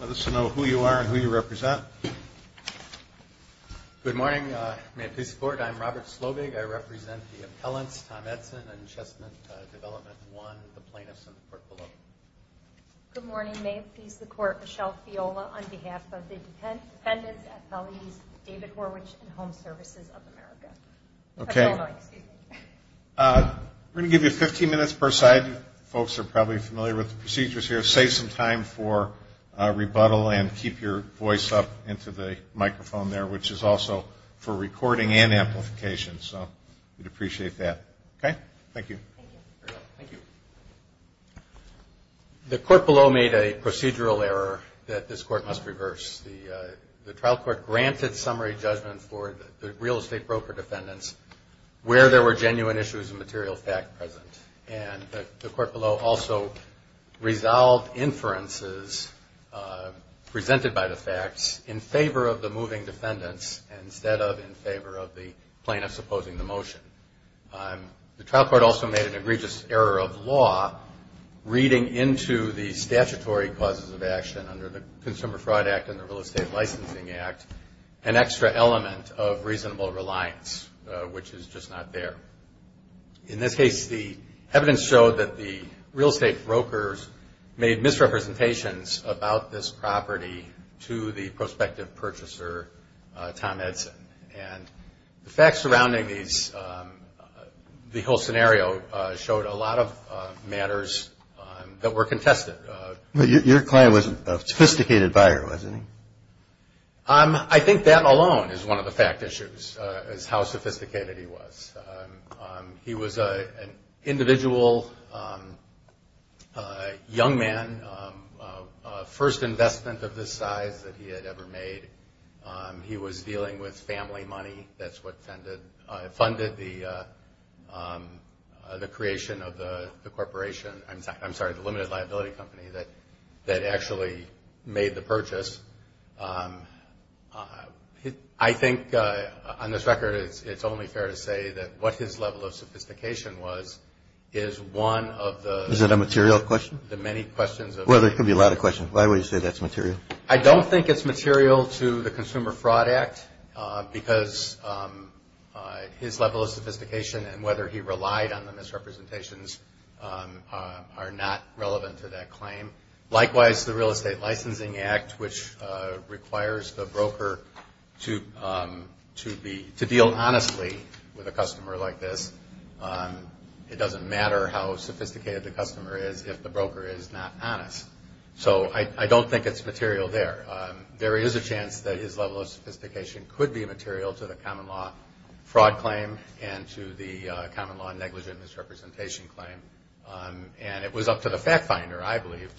Let us know who you are and who you represent. Good morning. May it please the Court, I am Robert Slovig. I represent the appellants, Tom Edson and Chestnut Development 1, the plaintiffs in the court below. Good morning. May it please the Court, Michelle Fiola on behalf of the defendants at Feliz, David Horwich and Home Services of America. We are going to give you 15 minutes per side. Folks are probably familiar with the procedures here. Save some time for rebuttal and keep your voice up into the microphone there, which is also for recording and amplification. So we would appreciate that. Thank you. Thank you. The court below made a procedural error that this court must reverse. The trial court granted summary judgment for the real estate broker defendants where there were genuine issues of material fact present. And the court below also resolved inferences presented by the facts in favor of the moving defendants instead of in favor of the plaintiffs opposing the motion. The trial court also made an egregious error of law reading into the statutory causes of action under the Consumer Fraud Act and the Real Estate Licensing Act an extra element of reasonable reliance, which is just not there. In this case, the evidence showed that the real estate brokers made misrepresentations about this property to the prospective purchaser, Tom Edson. And the facts surrounding the whole scenario showed a lot of matters that were contested. Your client was a sophisticated buyer, wasn't he? I think that alone is one of the fact issues, is how sophisticated he was. He was an individual young man, first investment of this size that he had ever made. He was dealing with family money. That's what funded the creation of the corporation. I'm sorry, the limited liability company that actually made the purchase. I think on this record, it's only fair to say that what his level of sophistication was is one of the... Is it a material question? The many questions of... Well, there could be a lot of questions. Why would you say that's material? I don't think it's material to the Consumer Fraud Act because his level of sophistication and whether he relied on the misrepresentations are not relevant to that claim. Likewise, the Real Estate Licensing Act, which requires the broker to deal honestly with a customer like this. It doesn't matter how sophisticated the customer is if the broker is not honest. I don't think it's material there. There is a chance that his level of sophistication could be material to the common law fraud claim and to the common law negligent misrepresentation claim. It was up to the fact finder, I believe,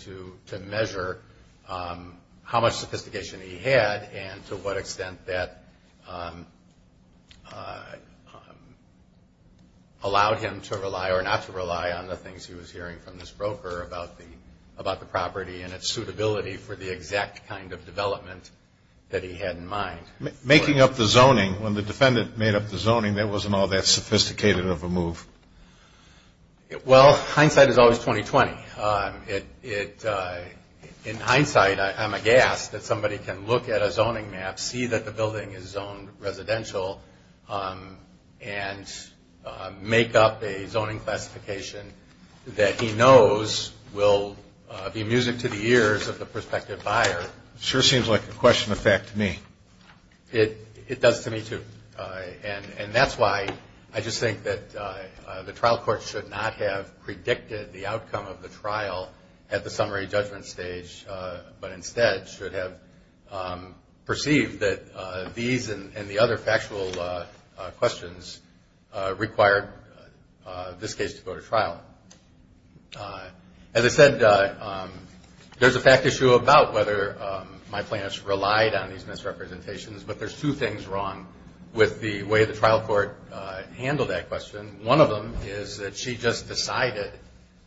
to measure how much sophistication he had and to what extent that allowed him to rely or not to rely on the things he was hearing from this broker about the property and its suitability for the exact kind of development that he had in mind. Making up the zoning, when the defendant made up the zoning, that wasn't all that sophisticated of a move. Well, hindsight is always 20-20. In hindsight, I'm aghast that somebody can look at a zoning map, see that the building is zoned residential, and make up a zoning classification that he knows will be amusing to the ears of the prospective buyer. It sure seems like a question of fact to me. It does to me, too. And that's why I just think that the trial court should not have predicted the outcome of the trial at the summary judgment stage, but instead should have perceived that these and the other factual questions required this case to go to trial. As I said, there's a fact issue about whether my plaintiffs relied on these misrepresentations, but there's two things wrong with the way the trial court handled that question. One of them is that she just decided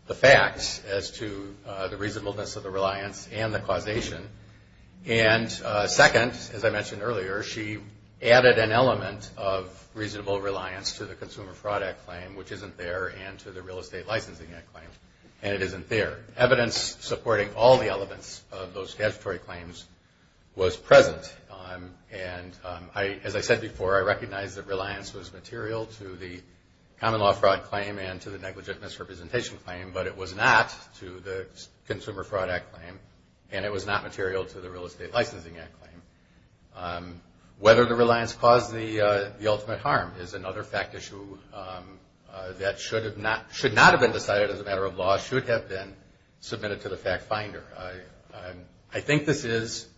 the facts as to the reasonableness of the reliance and the causation. And second, as I mentioned earlier, she added an element of reasonable reliance to the Consumer Fraud Act claim, which isn't there, and to the Real Estate Licensing Act claim, and it isn't there. Evidence supporting all the elements of those statutory claims was present. And as I said before, I recognize that reliance was material to the common law fraud claim and to the negligent misrepresentation claim, but it was not to the Consumer Fraud Act claim, and it was not material to the Real Estate Licensing Act claim. Whether the reliance caused the ultimate harm is another fact issue that should not have been decided as a matter of law, should have been submitted to the fact finder. I think this is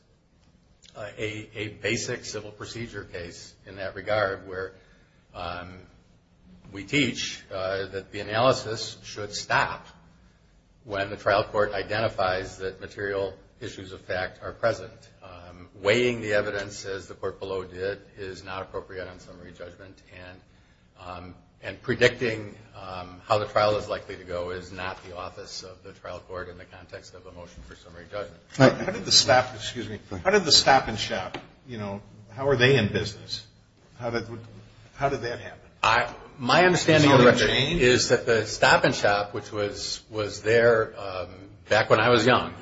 a basic civil procedure case in that regard, where we teach that the analysis should stop when the trial court identifies that material issues of fact are present. Weighing the evidence, as the court below did, is not appropriate on summary judgment, and predicting how the trial is likely to go is not the office of the trial court in the context of a motion for summary judgment. How did the stop and shop, you know, how are they in business? How did that happen? My understanding is that the stop and shop, which was there back when I was young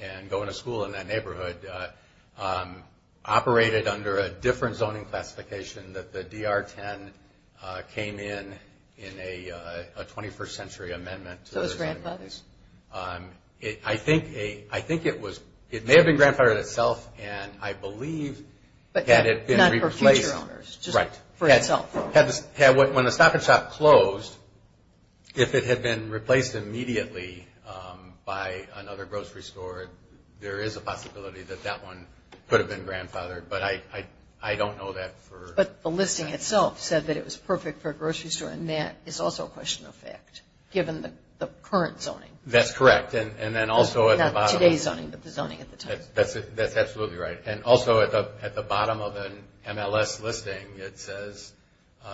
and going to school in that neighborhood, operated under a different zoning classification that the DR-10 came in in a 21st century amendment. Those grandfathers? I think it was, it may have been grandfathered itself, and I believe had it been replaced. Not for future owners? Right. Just for itself? When the stop and shop closed, if it had been replaced immediately by another grocery store, there is a possibility that that one could have been grandfathered, but I don't know that for. But the listing itself said that it was perfect for a grocery store, and that is also a question of fact, given the current zoning. That's correct. And then also at the bottom. Not today's zoning, but the zoning at the time. That's absolutely right. And also at the bottom of an MLS listing, it says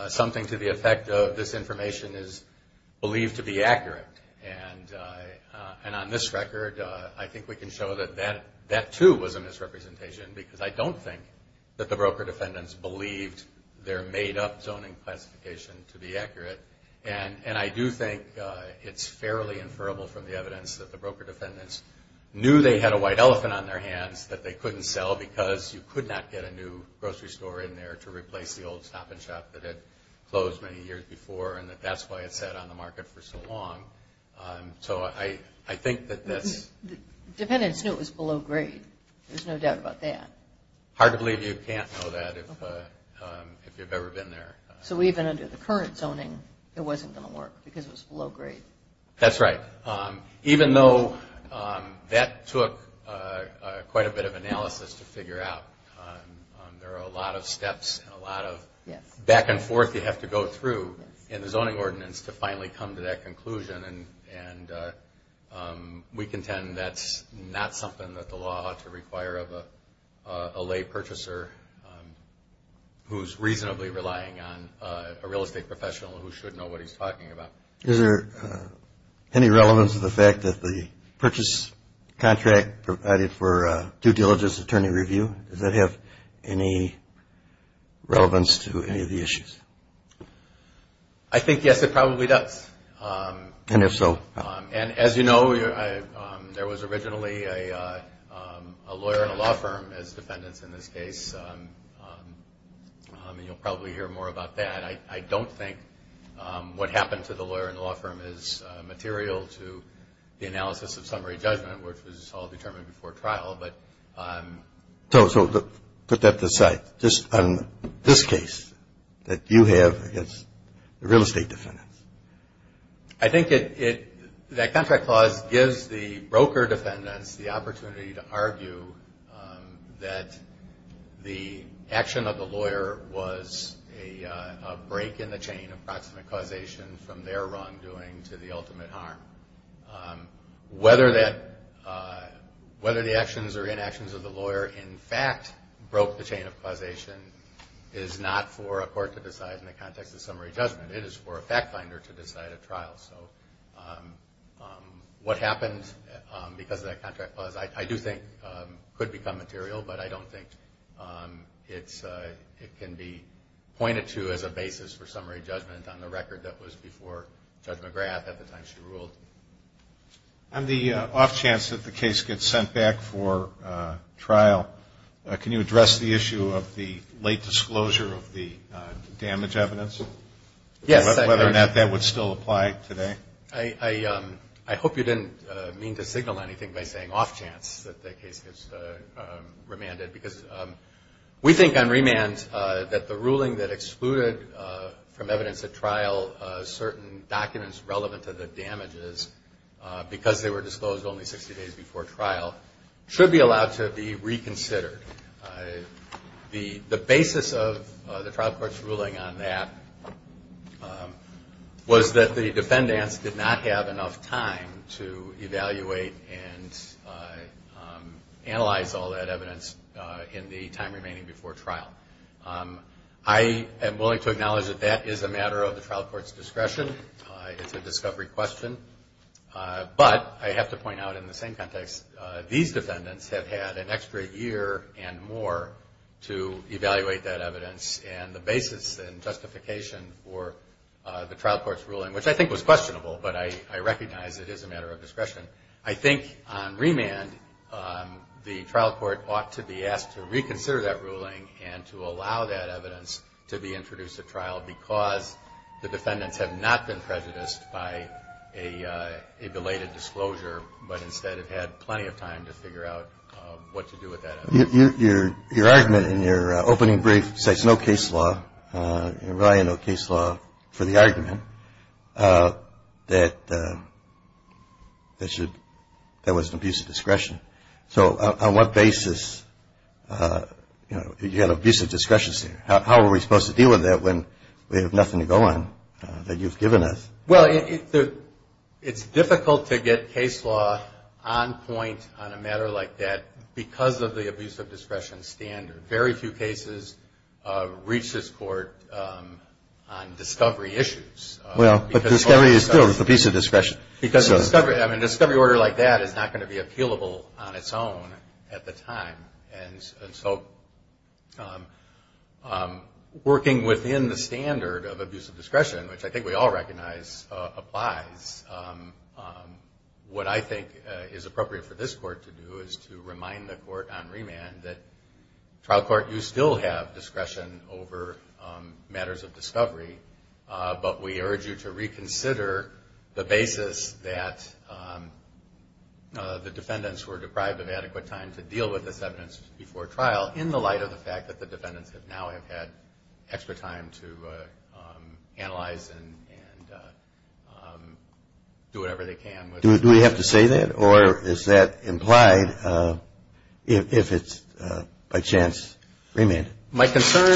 something to the effect of this information is believed to be accurate. And on this record, I think we can show that that too was a misrepresentation, because I don't think that the broker defendants believed their made-up zoning classification to be accurate. And I do think it's fairly inferable from the evidence that the broker defendants knew they had a white elephant on their hands, that they couldn't sell because you could not get a new grocery store in there to replace the old stop and shop that had closed many years before, and that that's why it sat on the market for so long. So I think that that's... The defendants knew it was below grade. There's no doubt about that. Hard to believe you can't know that if you've ever been there. So even under the current zoning, it wasn't going to work because it was below grade. That's right. Even though that took quite a bit of analysis to figure out, there are a lot of steps and a lot of back and forth you have to go through in the zoning ordinance to finally come to that conclusion. And we contend that's not something that the law ought to require of a lay purchaser who's reasonably relying on a real estate professional who should know what he's talking about. Is there any relevance to the fact that the purchase contract provided for due diligence attorney review, does that have any relevance to any of the issues? I think, yes, it probably does. And if so? And as you know, there was originally a lawyer in a law firm as defendants in this case, and you'll probably hear more about that. I don't think what happened to the lawyer in the law firm is material to the analysis of summary judgment, which was all determined before trial. So put that aside. Just on this case that you have against the real estate defendants. I think that contract clause gives the broker defendants the opportunity to argue that the action of the lawyer was a break in the chain of proximate causation from their wrongdoing to the ultimate harm. Whether the actions or inactions of the lawyer in fact broke the chain of causation is not for a court to decide in the context of summary judgment. It is for a fact finder to decide at trial. So what happened because of that contract clause I do think could become material, but I don't think it can be pointed to as a basis for summary judgment on the record that was before Judge McGrath at the time she ruled. On the off chance that the case gets sent back for trial, can you address the issue of the late disclosure of the damage evidence? Yes, I can. Whether or not that would still apply today? I hope you didn't mean to signal anything by saying off chance that the case gets remanded. Because we think on remand that the ruling that excluded from evidence at trial certain documents relevant to the damages because they were disclosed only 60 days before trial should be allowed to be reconsidered. The basis of the trial court's ruling on that was that the defendants did not have enough time to evaluate and analyze all that evidence in the time remaining before trial. I am willing to acknowledge that that is a matter of the trial court's discretion. It's a discovery question. But I have to point out in the same context, these defendants have had an extra year and more to evaluate that evidence. And the basis and justification for the trial court's ruling, which I think was questionable, but I recognize it is a matter of discretion. I think on remand the trial court ought to be asked to reconsider that ruling and to allow that evidence to be introduced at trial because the defendants have not been prejudiced by a belated disclosure, but instead have had plenty of time to figure out what to do with that evidence. Your argument in your opening brief says no case law, relying on no case law for the argument, that there was an abuse of discretion. So on what basis, you know, you had an abuse of discretion there. How are we supposed to deal with that when we have nothing to go on that you've given us? Well, it's difficult to get case law on point on a matter like that because of the abuse of discretion standard. Very few cases reach this court on discovery issues. Well, but discovery is still an abuse of discretion. Because a discovery order like that is not going to be appealable on its own at the time. And so working within the standard of abuse of discretion, which I think we all recognize applies, what I think is appropriate for this court to do is to remind the court on remand that trial court, you still have discretion over matters of discovery, but we urge you to reconsider the basis that the defendants were deprived of adequate time to deal with this evidence. Before trial, in the light of the fact that the defendants have now had extra time to analyze and do whatever they can. Do we have to say that? Or is that implied if it's by chance remanded? My concern,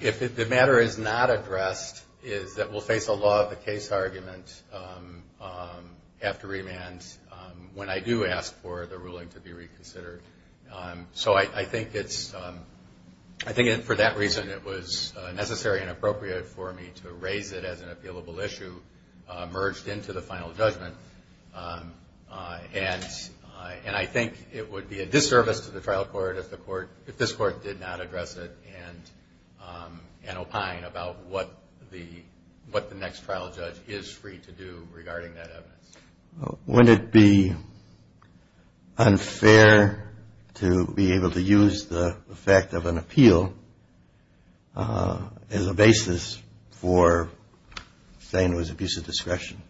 if the matter is not addressed, is that we'll face a law of the case argument after remand when I do ask for the ruling to be reconsidered. So I think it's, I think for that reason it was necessary and appropriate for me to raise it as an appealable issue merged into the final judgment. And I think it would be a disservice to the trial court if the court, if this court did not address it and opine about what the next trial judge is free to do regarding that evidence. Would it be unfair to be able to use the fact of an appeal as a basis for saying it was abuse of discretion?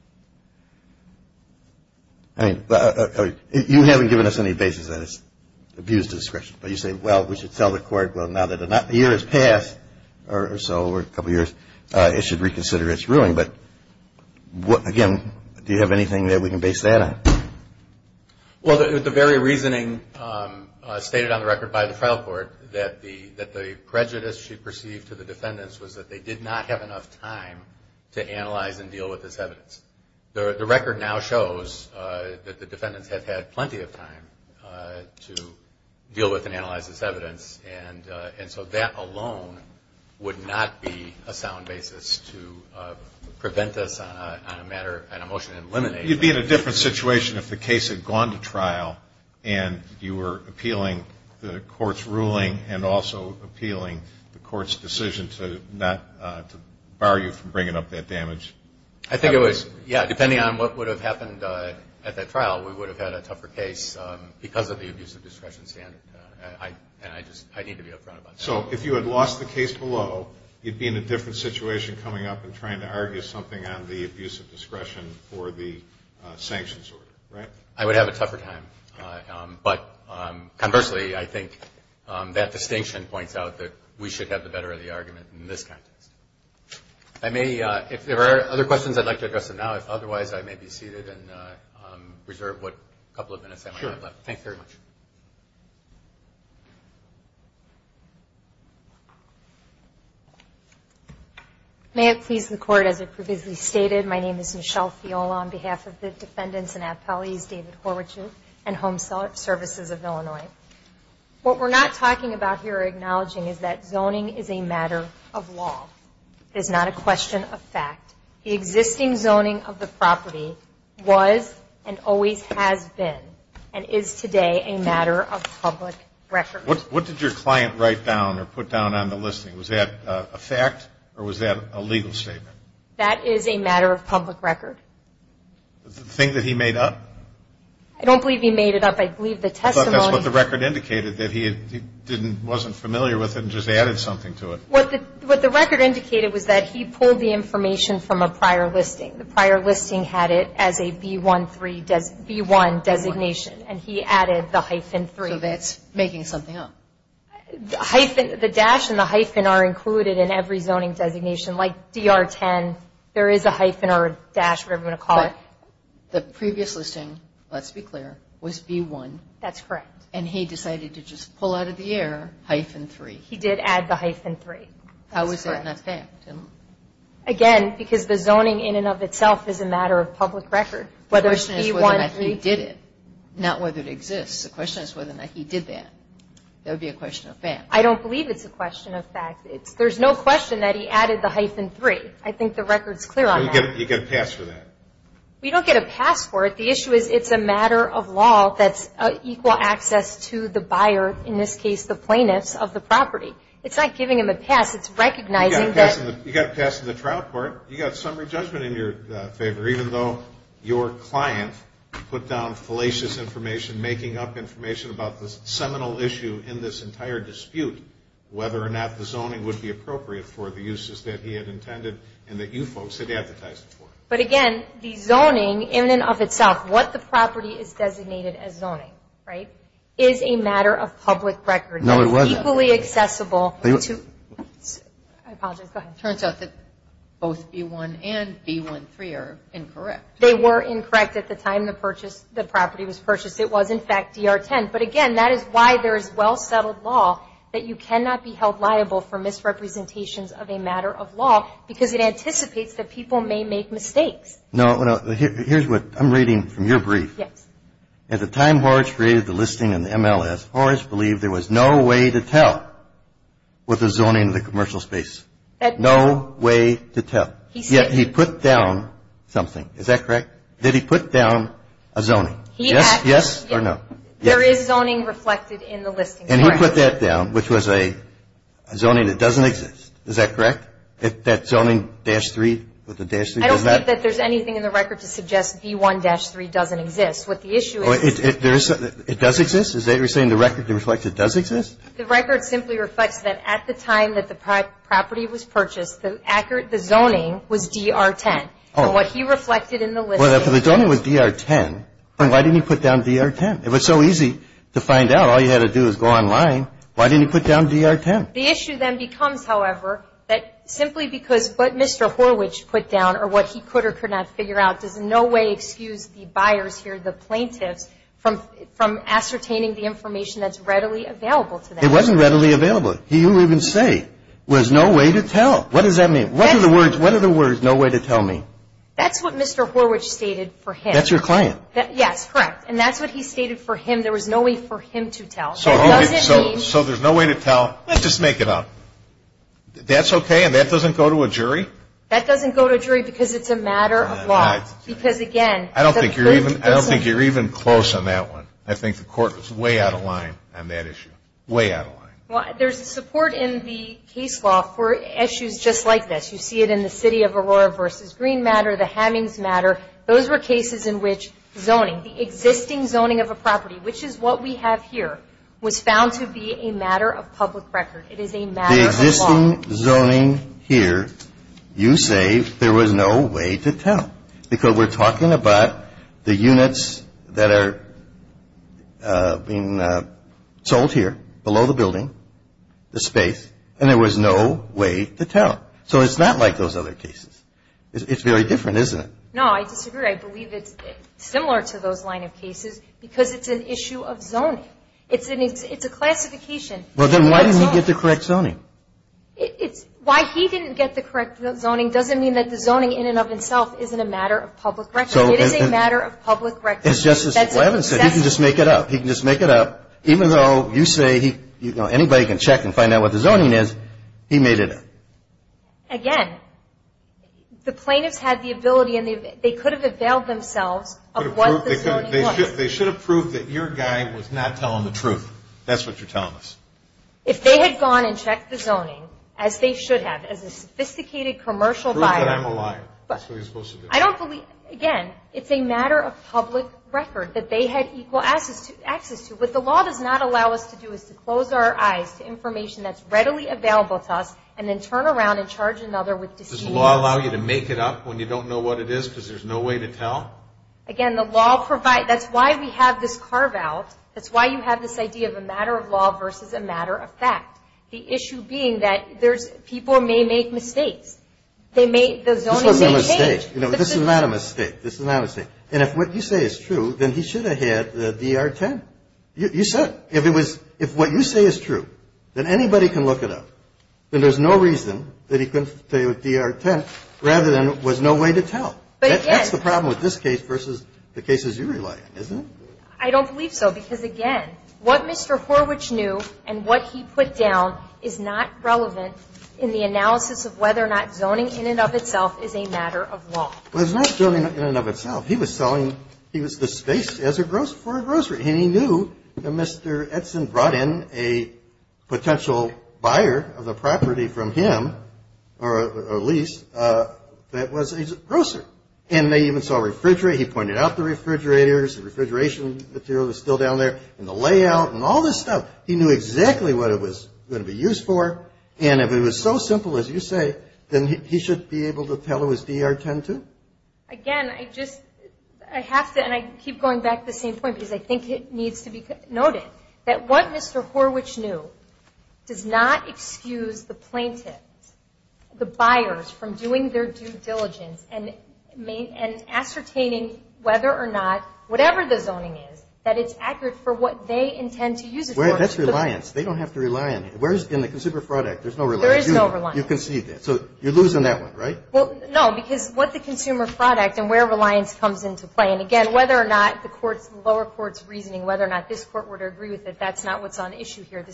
I mean, you haven't given us any basis that it's abuse of discretion. But you say, well, we should tell the court, well, now that the year has passed or so, or a couple of years, it should reconsider its ruling. But, again, do you have anything that we can base that on? Well, the very reasoning stated on the record by the trial court that the prejudice she perceived to the defendants was that they did not have enough time to analyze and deal with this evidence. The record now shows that the defendants have had plenty of time to deal with and analyze this evidence. And so that alone would not be a sound basis to prevent this on a matter, on a motion to eliminate it. You'd be in a different situation if the case had gone to trial and you were appealing the court's ruling and also appealing the court's decision to not, to bar you from bringing up that damage. I think it was, yeah, depending on what would have happened at that trial, we would have had a tougher case because of the abuse of discretion standard. And I just, I need to be upfront about that. So if you had lost the case below, you'd be in a different situation coming up and trying to argue something on the abuse of discretion for the sanctions order, right? I would have a tougher time. But conversely, I think that distinction points out that we should have the better of the argument in this context. If there are other questions, I'd like to address them now. If otherwise, I may be seated and reserve what couple of minutes I might have left. Thank you very much. May it please the court, as it previously stated, my name is Michelle Fiola on behalf of the defendants and appellees, David Horwich and Home Services of Illinois. What we're not talking about here or acknowledging is that zoning is a matter of law. It is not a question of fact. The existing zoning of the property was and always has been and is today a matter of public record. What did your client write down or put down on the listing? Was that a fact or was that a legal statement? That is a matter of public record. The thing that he made up? I don't believe he made it up. I believe the testimony. I thought that's what the record indicated, that he didn't, wasn't familiar with it and just added something to it. What the record indicated was that he pulled the information from a prior listing. The prior listing had it as a B1 designation and he added the hyphen 3. So that's making something up. The dash and the hyphen are included in every zoning designation. Like DR 10, there is a hyphen or a dash, whatever you want to call it. The previous listing, let's be clear, was B1. That's correct. And he decided to just pull out of the air hyphen 3. He did add the hyphen 3. How is that not fact? Again, because the zoning in and of itself is a matter of public record. The question is whether or not he did it, not whether it exists. The question is whether or not he did that. That would be a question of fact. I don't believe it's a question of fact. There's no question that he added the hyphen 3. I think the record's clear on that. You get a pass for that. We don't get a pass for it. The issue is it's a matter of law that's equal access to the buyer, in this case the plaintiffs, of the property. It's not giving them a pass. It's recognizing that. You got a pass in the trial court. You got summary judgment in your favor, even though your client put down fallacious information, making up information about the seminal issue in this entire dispute, whether or not the zoning would be appropriate for the uses that he had intended and that you folks had advertised it for. But, again, the zoning in and of itself, what the property is designated as zoning, right, is a matter of public record. No, it wasn't. Equally accessible. I apologize. Go ahead. It turns out that both B-1 and B-1-3 are incorrect. They were incorrect at the time the property was purchased. It was, in fact, DR-10. But, again, that is why there is well-settled law that you cannot be held liable for misrepresentations of a matter of law because it anticipates that people may make mistakes. No. Here's what I'm reading from your brief. Yes. At the time Horwich created the listing in the MLS, Horwich believed there was no way to tell what the zoning of the commercial space. No way to tell. Yet he put down something. Is that correct? Did he put down a zoning? Yes or no? There is zoning reflected in the listing. And he put that down, which was a zoning that doesn't exist. Is that correct? That zoning, dash 3, with the dash 3? I don't think that there's anything in the record to suggest B-1-3 doesn't exist. What the issue is. It does exist? Is that you're saying the record reflects it does exist? The record simply reflects that at the time that the property was purchased, the zoning was DR-10. And what he reflected in the listing. Well, if the zoning was DR-10, then why didn't he put down DR-10? It was so easy to find out. All you had to do was go online. Why didn't he put down DR-10? The issue then becomes, however, that simply because what Mr. Horwich put down or what he could or could not figure out does in no way excuse the buyers here, the plaintiffs, from ascertaining the information that's readily available to them. It wasn't readily available. He didn't even say there was no way to tell. What does that mean? What do the words no way to tell mean? That's what Mr. Horwich stated for him. That's your client? Yes, correct. And that's what he stated for him. There was no way for him to tell. So there's no way to tell. Let's just make it up. That's okay? And that doesn't go to a jury? That doesn't go to a jury because it's a matter of law. Because, again. I don't think you're even close on that one. I think the court was way out of line on that issue. Way out of line. There's support in the case law for issues just like this. You see it in the city of Aurora versus Green Matter, the Hammings Matter. Those were cases in which zoning, the existing zoning of a property, which is what we have here, was found to be a matter of public record. It is a matter of law. The existing zoning here, you say there was no way to tell. Because we're talking about the units that are being sold here, below the building, the space, and there was no way to tell. So it's not like those other cases. It's very different, isn't it? No, I disagree. I believe it's similar to those line of cases because it's an issue of zoning. It's a classification. Well, then why didn't he get the correct zoning? Why he didn't get the correct zoning doesn't mean that the zoning in and of itself isn't a matter of public record. It is a matter of public record. As Justice Levin said, he can just make it up. He can just make it up. Even though you say anybody can check and find out what the zoning is, he made it up. Again, the plaintiffs had the ability and they could have availed themselves of what the zoning was. They should have proved that your guy was not telling the truth. That's what you're telling us. If they had gone and checked the zoning, as they should have, as a sophisticated commercial buyer. Prove that I'm a liar. That's what you're supposed to do. Again, it's a matter of public record that they had equal access to. What the law does not allow us to do is to close our eyes to information that's readily available to us and then turn around and charge another with deceit. Does the law allow you to make it up when you don't know what it is because there's no way to tell? Again, the law provides. That's why we have this carve-out. That's why you have this idea of a matter of law versus a matter of fact. The issue being that people may make mistakes. The zoning may change. This wasn't a mistake. This is not a mistake. This is not a mistake. And if what you say is true, then he should have had the DR-10. You said it. If what you say is true, then anybody can look it up. Then there's no reason that he couldn't stay with DR-10 rather than there was no way to tell. That's the problem with this case versus the cases you rely on, isn't it? I don't believe so because, again, what Mr. Horwich knew and what he put down is not relevant in the analysis of whether or not zoning in and of itself is a matter of law. Well, it's not zoning in and of itself. He was selling the space for a grocery. And he knew that Mr. Edson brought in a potential buyer of the property from him or a lease that was a grocery. And they even saw a refrigerator. He pointed out the refrigerators, the refrigeration material that's still down there, and the layout and all this stuff. He knew exactly what it was going to be used for. And if it was so simple as you say, then he should be able to tell it was DR-10-2? Again, I just have to, and I keep going back to the same point because I think it needs to be noted, that what Mr. Horwich knew does not excuse the plaintiff, the buyers, from doing their due diligence and ascertaining whether or not, whatever the zoning is, that it's accurate for what they intend to use it for. That's reliance. They don't have to rely on it. Whereas in the Consumer Fraud Act, there's no reliance. There is no reliance. You concede that. So you're losing that one, right? Well, no, because what the Consumer Fraud Act and where reliance comes into play, and again, whether or not the lower court's reasoning whether or not this court were to agree with it, that's not what's on issue here.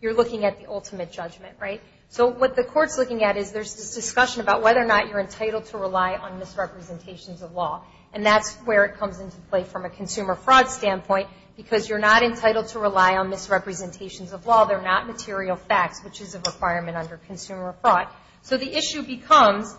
You're looking at the ultimate judgment, right? So what the court's looking at is there's this discussion about whether or not you're entitled to rely on misrepresentations of law. And that's where it comes into play from a consumer fraud standpoint, because you're not entitled to rely on misrepresentations of law. They're not material facts, which is a requirement under consumer fraud. So the issue becomes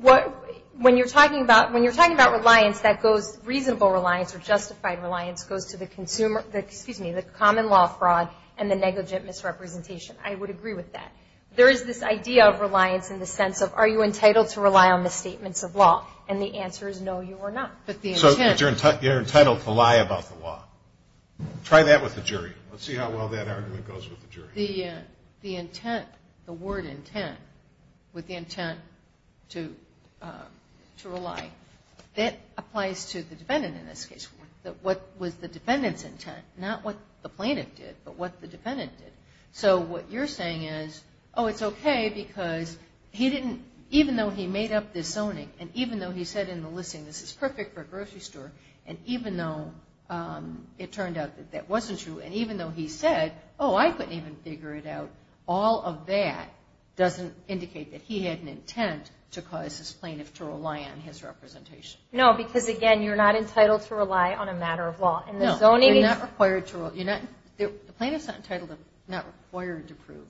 when you're talking about reliance that goes reasonable reliance or justified reliance goes to the common law fraud and the negligent misrepresentation. I would agree with that. There is this idea of reliance in the sense of are you entitled to rely on misstatements of law? And the answer is no, you are not. So you're entitled to lie about the law. Try that with the jury. Let's see how well that argument goes with the jury. The intent, the word intent, with the intent to rely, that applies to the defendant in this case. What was the defendant's intent? Not what the plaintiff did, but what the defendant did. So what you're saying is, oh, it's okay because he didn't, even though he made up this zoning and even though he said in the listing this is perfect for a grocery store, and even though it turned out that that wasn't true, and even though he said, oh, I couldn't even figure it out, all of that doesn't indicate that he had an intent to cause his plaintiff to rely on his representation. No, because, again, you're not entitled to rely on a matter of law. No, you're not required to rely. The plaintiff's not entitled, not required to prove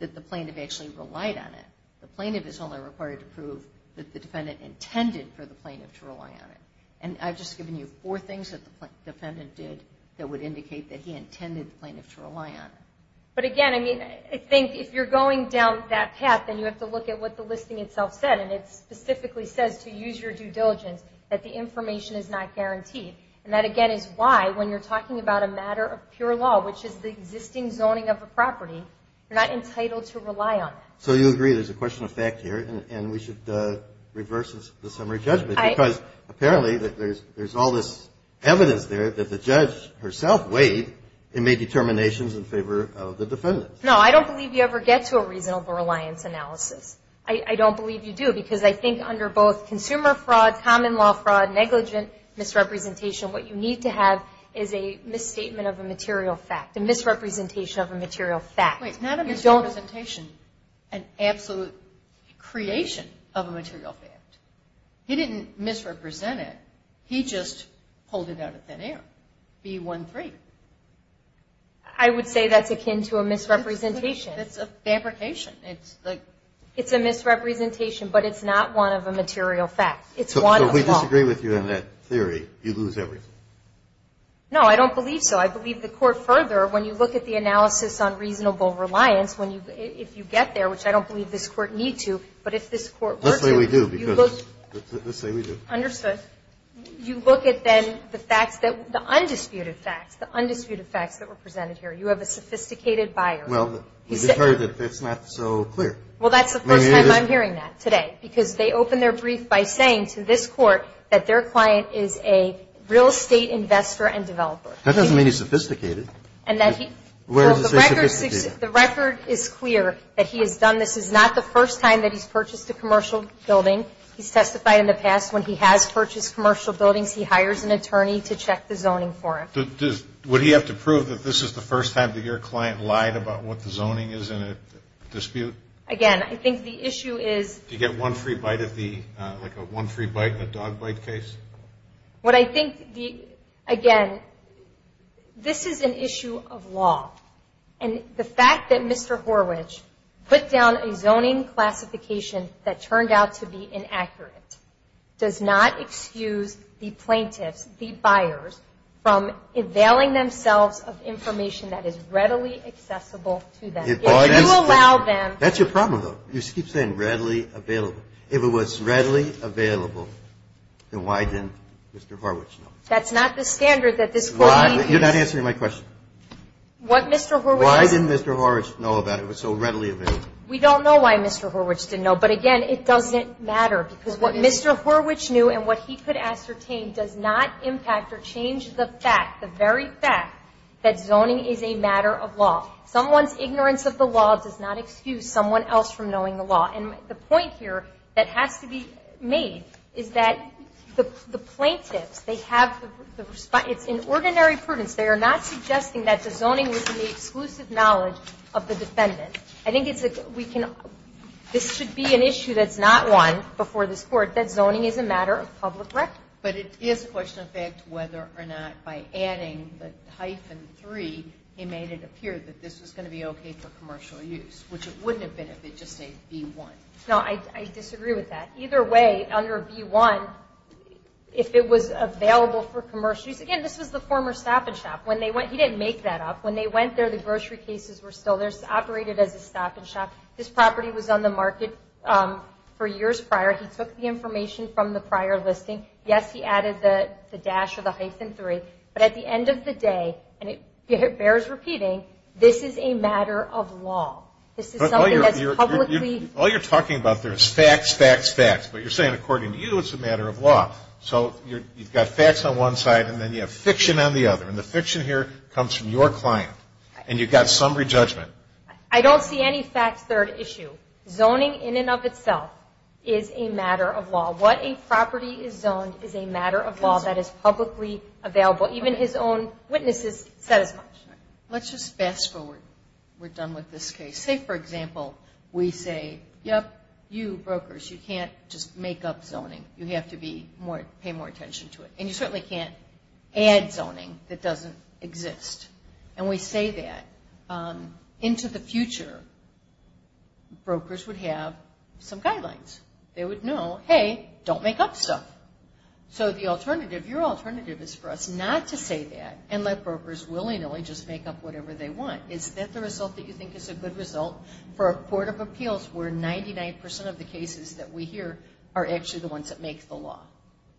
that the plaintiff actually relied on it. The plaintiff is only required to prove that the defendant intended for the plaintiff to rely on it. And I've just given you four things that the defendant did that would indicate that he intended the plaintiff to rely on it. But, again, I mean, I think if you're going down that path, then you have to look at what the listing itself said, and it specifically says to use your due diligence that the information is not guaranteed. And that, again, is why when you're talking about a matter of pure law, which is the existing zoning of a property, you're not entitled to rely on it. So you agree there's a question of fact here, and we should reverse the summary judgment, because apparently there's all this evidence there that the judge herself weighed and made determinations in favor of the defendant. No, I don't believe you ever get to a reasonable reliance analysis. I don't believe you do, because I think under both consumer fraud, common law fraud, negligent misrepresentation, what you need to have is a misstatement of a material fact, a misrepresentation of a material fact. Wait, not a misrepresentation, an absolute creation of a material fact. He didn't misrepresent it. He just pulled it out of thin air, B-1-3. I would say that's akin to a misrepresentation. It's a fabrication. It's a misrepresentation, but it's not one of a material fact. It's one of a law. So if we disagree with you on that theory, you lose everything. No, I don't believe so. I believe the court further, when you look at the analysis on reasonable reliance, if you get there, which I don't believe this court need to, but if this court were to, let's say we do, because let's say we do. Understood. You look at then the facts, the undisputed facts, the undisputed facts that were presented here. You have a sophisticated buyer. Well, we've heard that that's not so clear. Well, that's the first time I'm hearing that today, because they opened their brief by saying to this court that their client is a real estate investor and developer. That doesn't mean he's sophisticated. And that he, well, the record is clear that he has done this. This is not the first time that he's purchased a commercial building. He's testified in the past when he has purchased commercial buildings, he hires an attorney to check the zoning for it. Would he have to prove that this is the first time that your client lied about what the zoning is in a dispute? Again, I think the issue is to get one free bite of the, like a one free bite in a dog bite case. What I think, again, this is an issue of law. And the fact that Mr. Horwich put down a zoning classification that turned out to be inaccurate does not excuse the plaintiffs, the buyers, from availing themselves of information that is readily accessible to them. If you allow them. That's your problem, though. You keep saying readily available. If it was readily available, then why didn't Mr. Horwich know? That's not the standard that this court needs. You're not answering my question. Why didn't Mr. Horwich know that it was so readily available? We don't know why Mr. Horwich didn't know. But, again, it doesn't matter because what Mr. Horwich knew and what he could ascertain does not impact or change the fact, the very fact, that zoning is a matter of law. Someone's ignorance of the law does not excuse someone else from knowing the law. And the point here that has to be made is that the plaintiffs, they have the response. It's in ordinary prudence. They are not suggesting that the zoning was in the exclusive knowledge of the defendant. I think this should be an issue that's not one before this court, that zoning is a matter of public record. But it is a question of fact whether or not by adding the hyphen 3, he made it appear that this was going to be okay for commercial use, which it wouldn't have been if it just said B1. No, I disagree with that. Either way, under B1, if it was available for commercial use, again, this was the former stop and shop. He didn't make that up. When they went there, the grocery cases were still there. It's operated as a stop and shop. This property was on the market for years prior. He took the information from the prior listing. Yes, he added the dash or the hyphen 3. But at the end of the day, and it bears repeating, this is a matter of law. This is something that's publicly. All you're talking about there is facts, facts, facts. But you're saying, according to you, it's a matter of law. So you've got facts on one side, and then you have fiction on the other. And the fiction here comes from your client. And you've got summary judgment. I don't see any facts there to issue. Zoning in and of itself is a matter of law. What a property is zoned is a matter of law that is publicly available. Even his own witnesses said as much. Let's just fast forward. We're done with this case. Say, for example, we say, yep, you brokers, you can't just make up zoning. You have to pay more attention to it. And you certainly can't add zoning that doesn't exist. And we say that. Into the future, brokers would have some guidelines. They would know, hey, don't make up stuff. So the alternative, your alternative is for us not to say that and let brokers willy-nilly just make up whatever they want. Is that the result that you think is a good result for a court of appeals where 99% of the cases that we hear are actually the ones that make the law?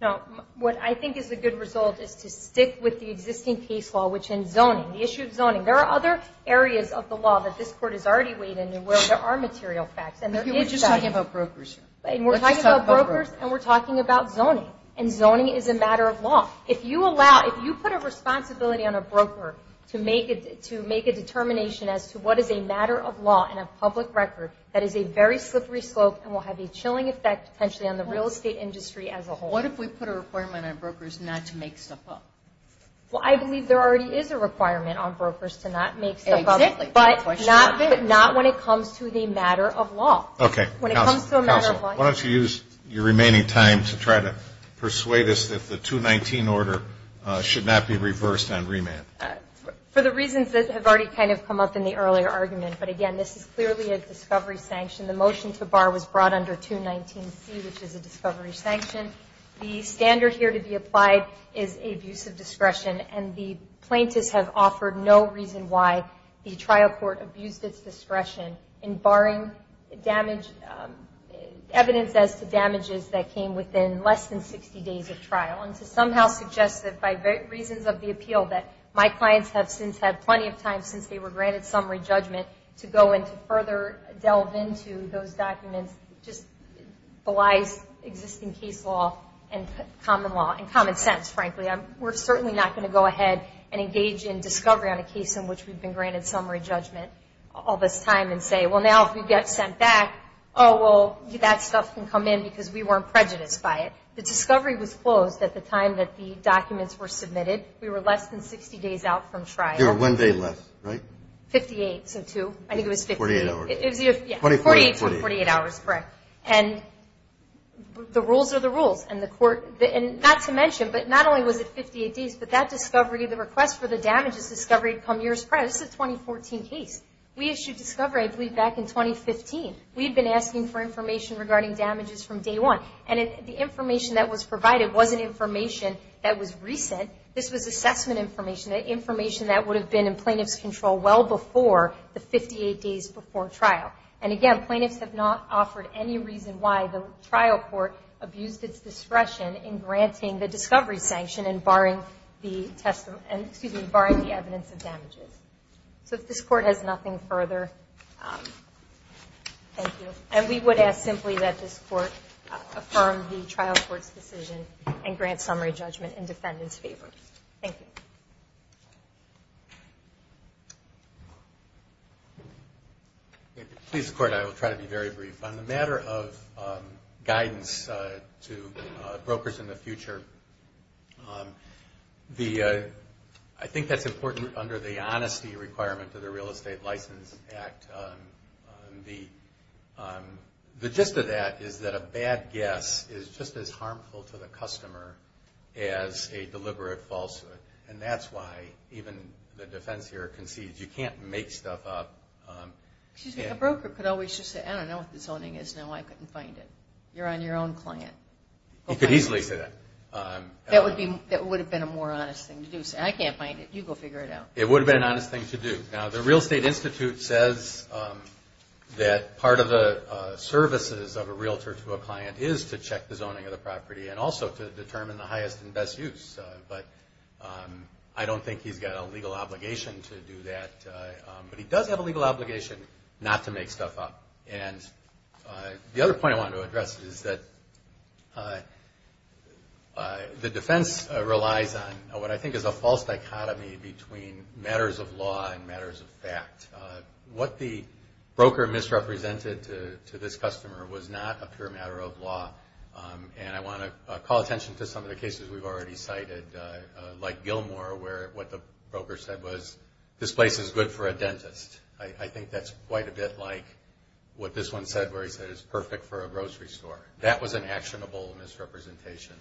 No. What I think is a good result is to stick with the existing case law, which is zoning, the issue of zoning. There are other areas of the law that this Court has already weighed in where there are material facts. We're just talking about brokers here. We're talking about brokers and we're talking about zoning. And zoning is a matter of law. If you put a responsibility on a broker to make a determination as to what is a matter of law in a public record, that is a very slippery slope and will have a chilling effect potentially on the real estate industry as a whole. What if we put a requirement on brokers not to make stuff up? Well, I believe there already is a requirement on brokers to not make stuff up. Exactly. But not when it comes to the matter of law. Okay. Counsel, why don't you use your remaining time to try to persuade us that the 219 order should not be reversed on remand? For the reasons that have already kind of come up in the earlier argument. But, again, this is clearly a discovery sanction. The motion to bar was brought under 219C, which is a discovery sanction. The standard here to be applied is abusive discretion, and the plaintiffs have offered no reason why the trial court abused its discretion in barring evidence as to damages that came within less than 60 days of trial. And to somehow suggest that by reasons of the appeal that my clients have since had plenty of time since they were granted summary judgment to go into further delve into those documents just belies existing case law and common law and common sense, frankly. We're certainly not going to go ahead and engage in discovery on a case in which we've been granted summary judgment all this time and say, well, now if we get sent back, oh, well, that stuff can come in because we weren't prejudiced by it. The discovery was closed at the time that the documents were submitted. We were less than 60 days out from trial. You were one day left, right? Fifty-eight, so two. I think it was 58. Forty-eight hours. Yeah. Forty-eight to 48 hours, correct. And the rules are the rules. And not to mention, but not only was it 58 days, but that discovery, the request for the damages discovery had come years prior. This is a 2014 case. We issued discovery, I believe, back in 2015. We had been asking for information regarding damages from day one, and the information that was provided wasn't information that was recent. This was assessment information, information that would have been in plaintiff's control well before the 58 days before trial. And, again, plaintiffs have not offered any reason why the trial court abused its discretion in granting the discovery sanction and barring the evidence of damages. So if this court has nothing further, thank you. And we would ask simply that this court affirm the trial court's decision and grant summary judgment in defendant's favor. Thank you. Please, Court, I will try to be very brief. On the matter of guidance to brokers in the future, I think that's important under the honesty requirement of the Real Estate License Act. The gist of that is that a bad guess is just as harmful to the customer as a deliberate falsehood, and that's why even the defense here concedes you can't make stuff up. Excuse me, a broker could always just say, I don't know what the zoning is. No, I couldn't find it. You're on your own client. You could easily say that. That would have been a more honest thing to do. Say, I can't find it. You go figure it out. It would have been an honest thing to do. Now, the Real Estate Institute says that part of the services of a realtor to a client is to check the zoning of the property and also to determine the highest and best use, but I don't think he's got a legal obligation to do that. But he does have a legal obligation not to make stuff up. And the other point I wanted to address is that the defense relies on what I think is a false dichotomy between matters of law and matters of fact. What the broker misrepresented to this customer was not a pure matter of law, and I want to call attention to some of the cases we've already cited, like Gilmore, where what the broker said was, this place is good for a dentist. I think that's quite a bit like what this one said, where he said it's perfect for a grocery store. That was an actionable misrepresentation.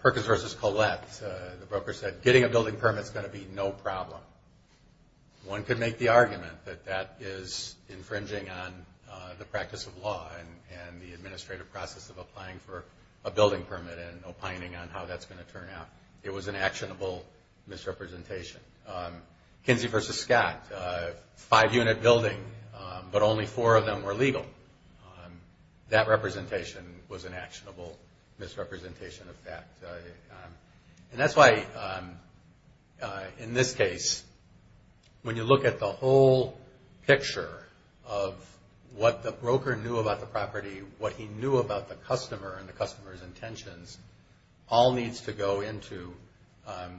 Perkins v. Collette, the broker said, getting a building permit is going to be no problem. One could make the argument that that is infringing on the practice of law and the administrative process of applying for a building permit and opining on how that's going to turn out. It was an actionable misrepresentation. Kinsey v. Scott, five-unit building, but only four of them were legal. That representation was an actionable misrepresentation of that. And that's why, in this case, when you look at the whole picture of what the broker knew about the property, what he knew about the customer and the customer's intentions, all needs to go into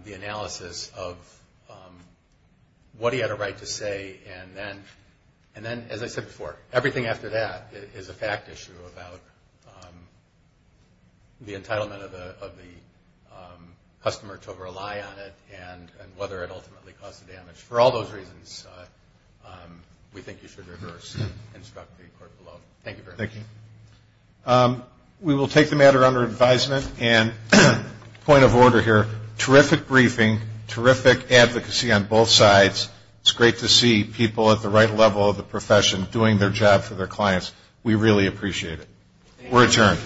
the analysis of what he had a right to say, and then, as I said before, everything after that is a fact issue about the entitlement of the customer to rely on it and whether it ultimately caused the damage. For all those reasons, we think you should reverse and instruct the court below. Thank you very much. Thank you. We will take the matter under advisement, and point of order here, terrific briefing, terrific advocacy on both sides. It's great to see people at the right level of the profession doing their job for their clients. We really appreciate it. We're adjourned.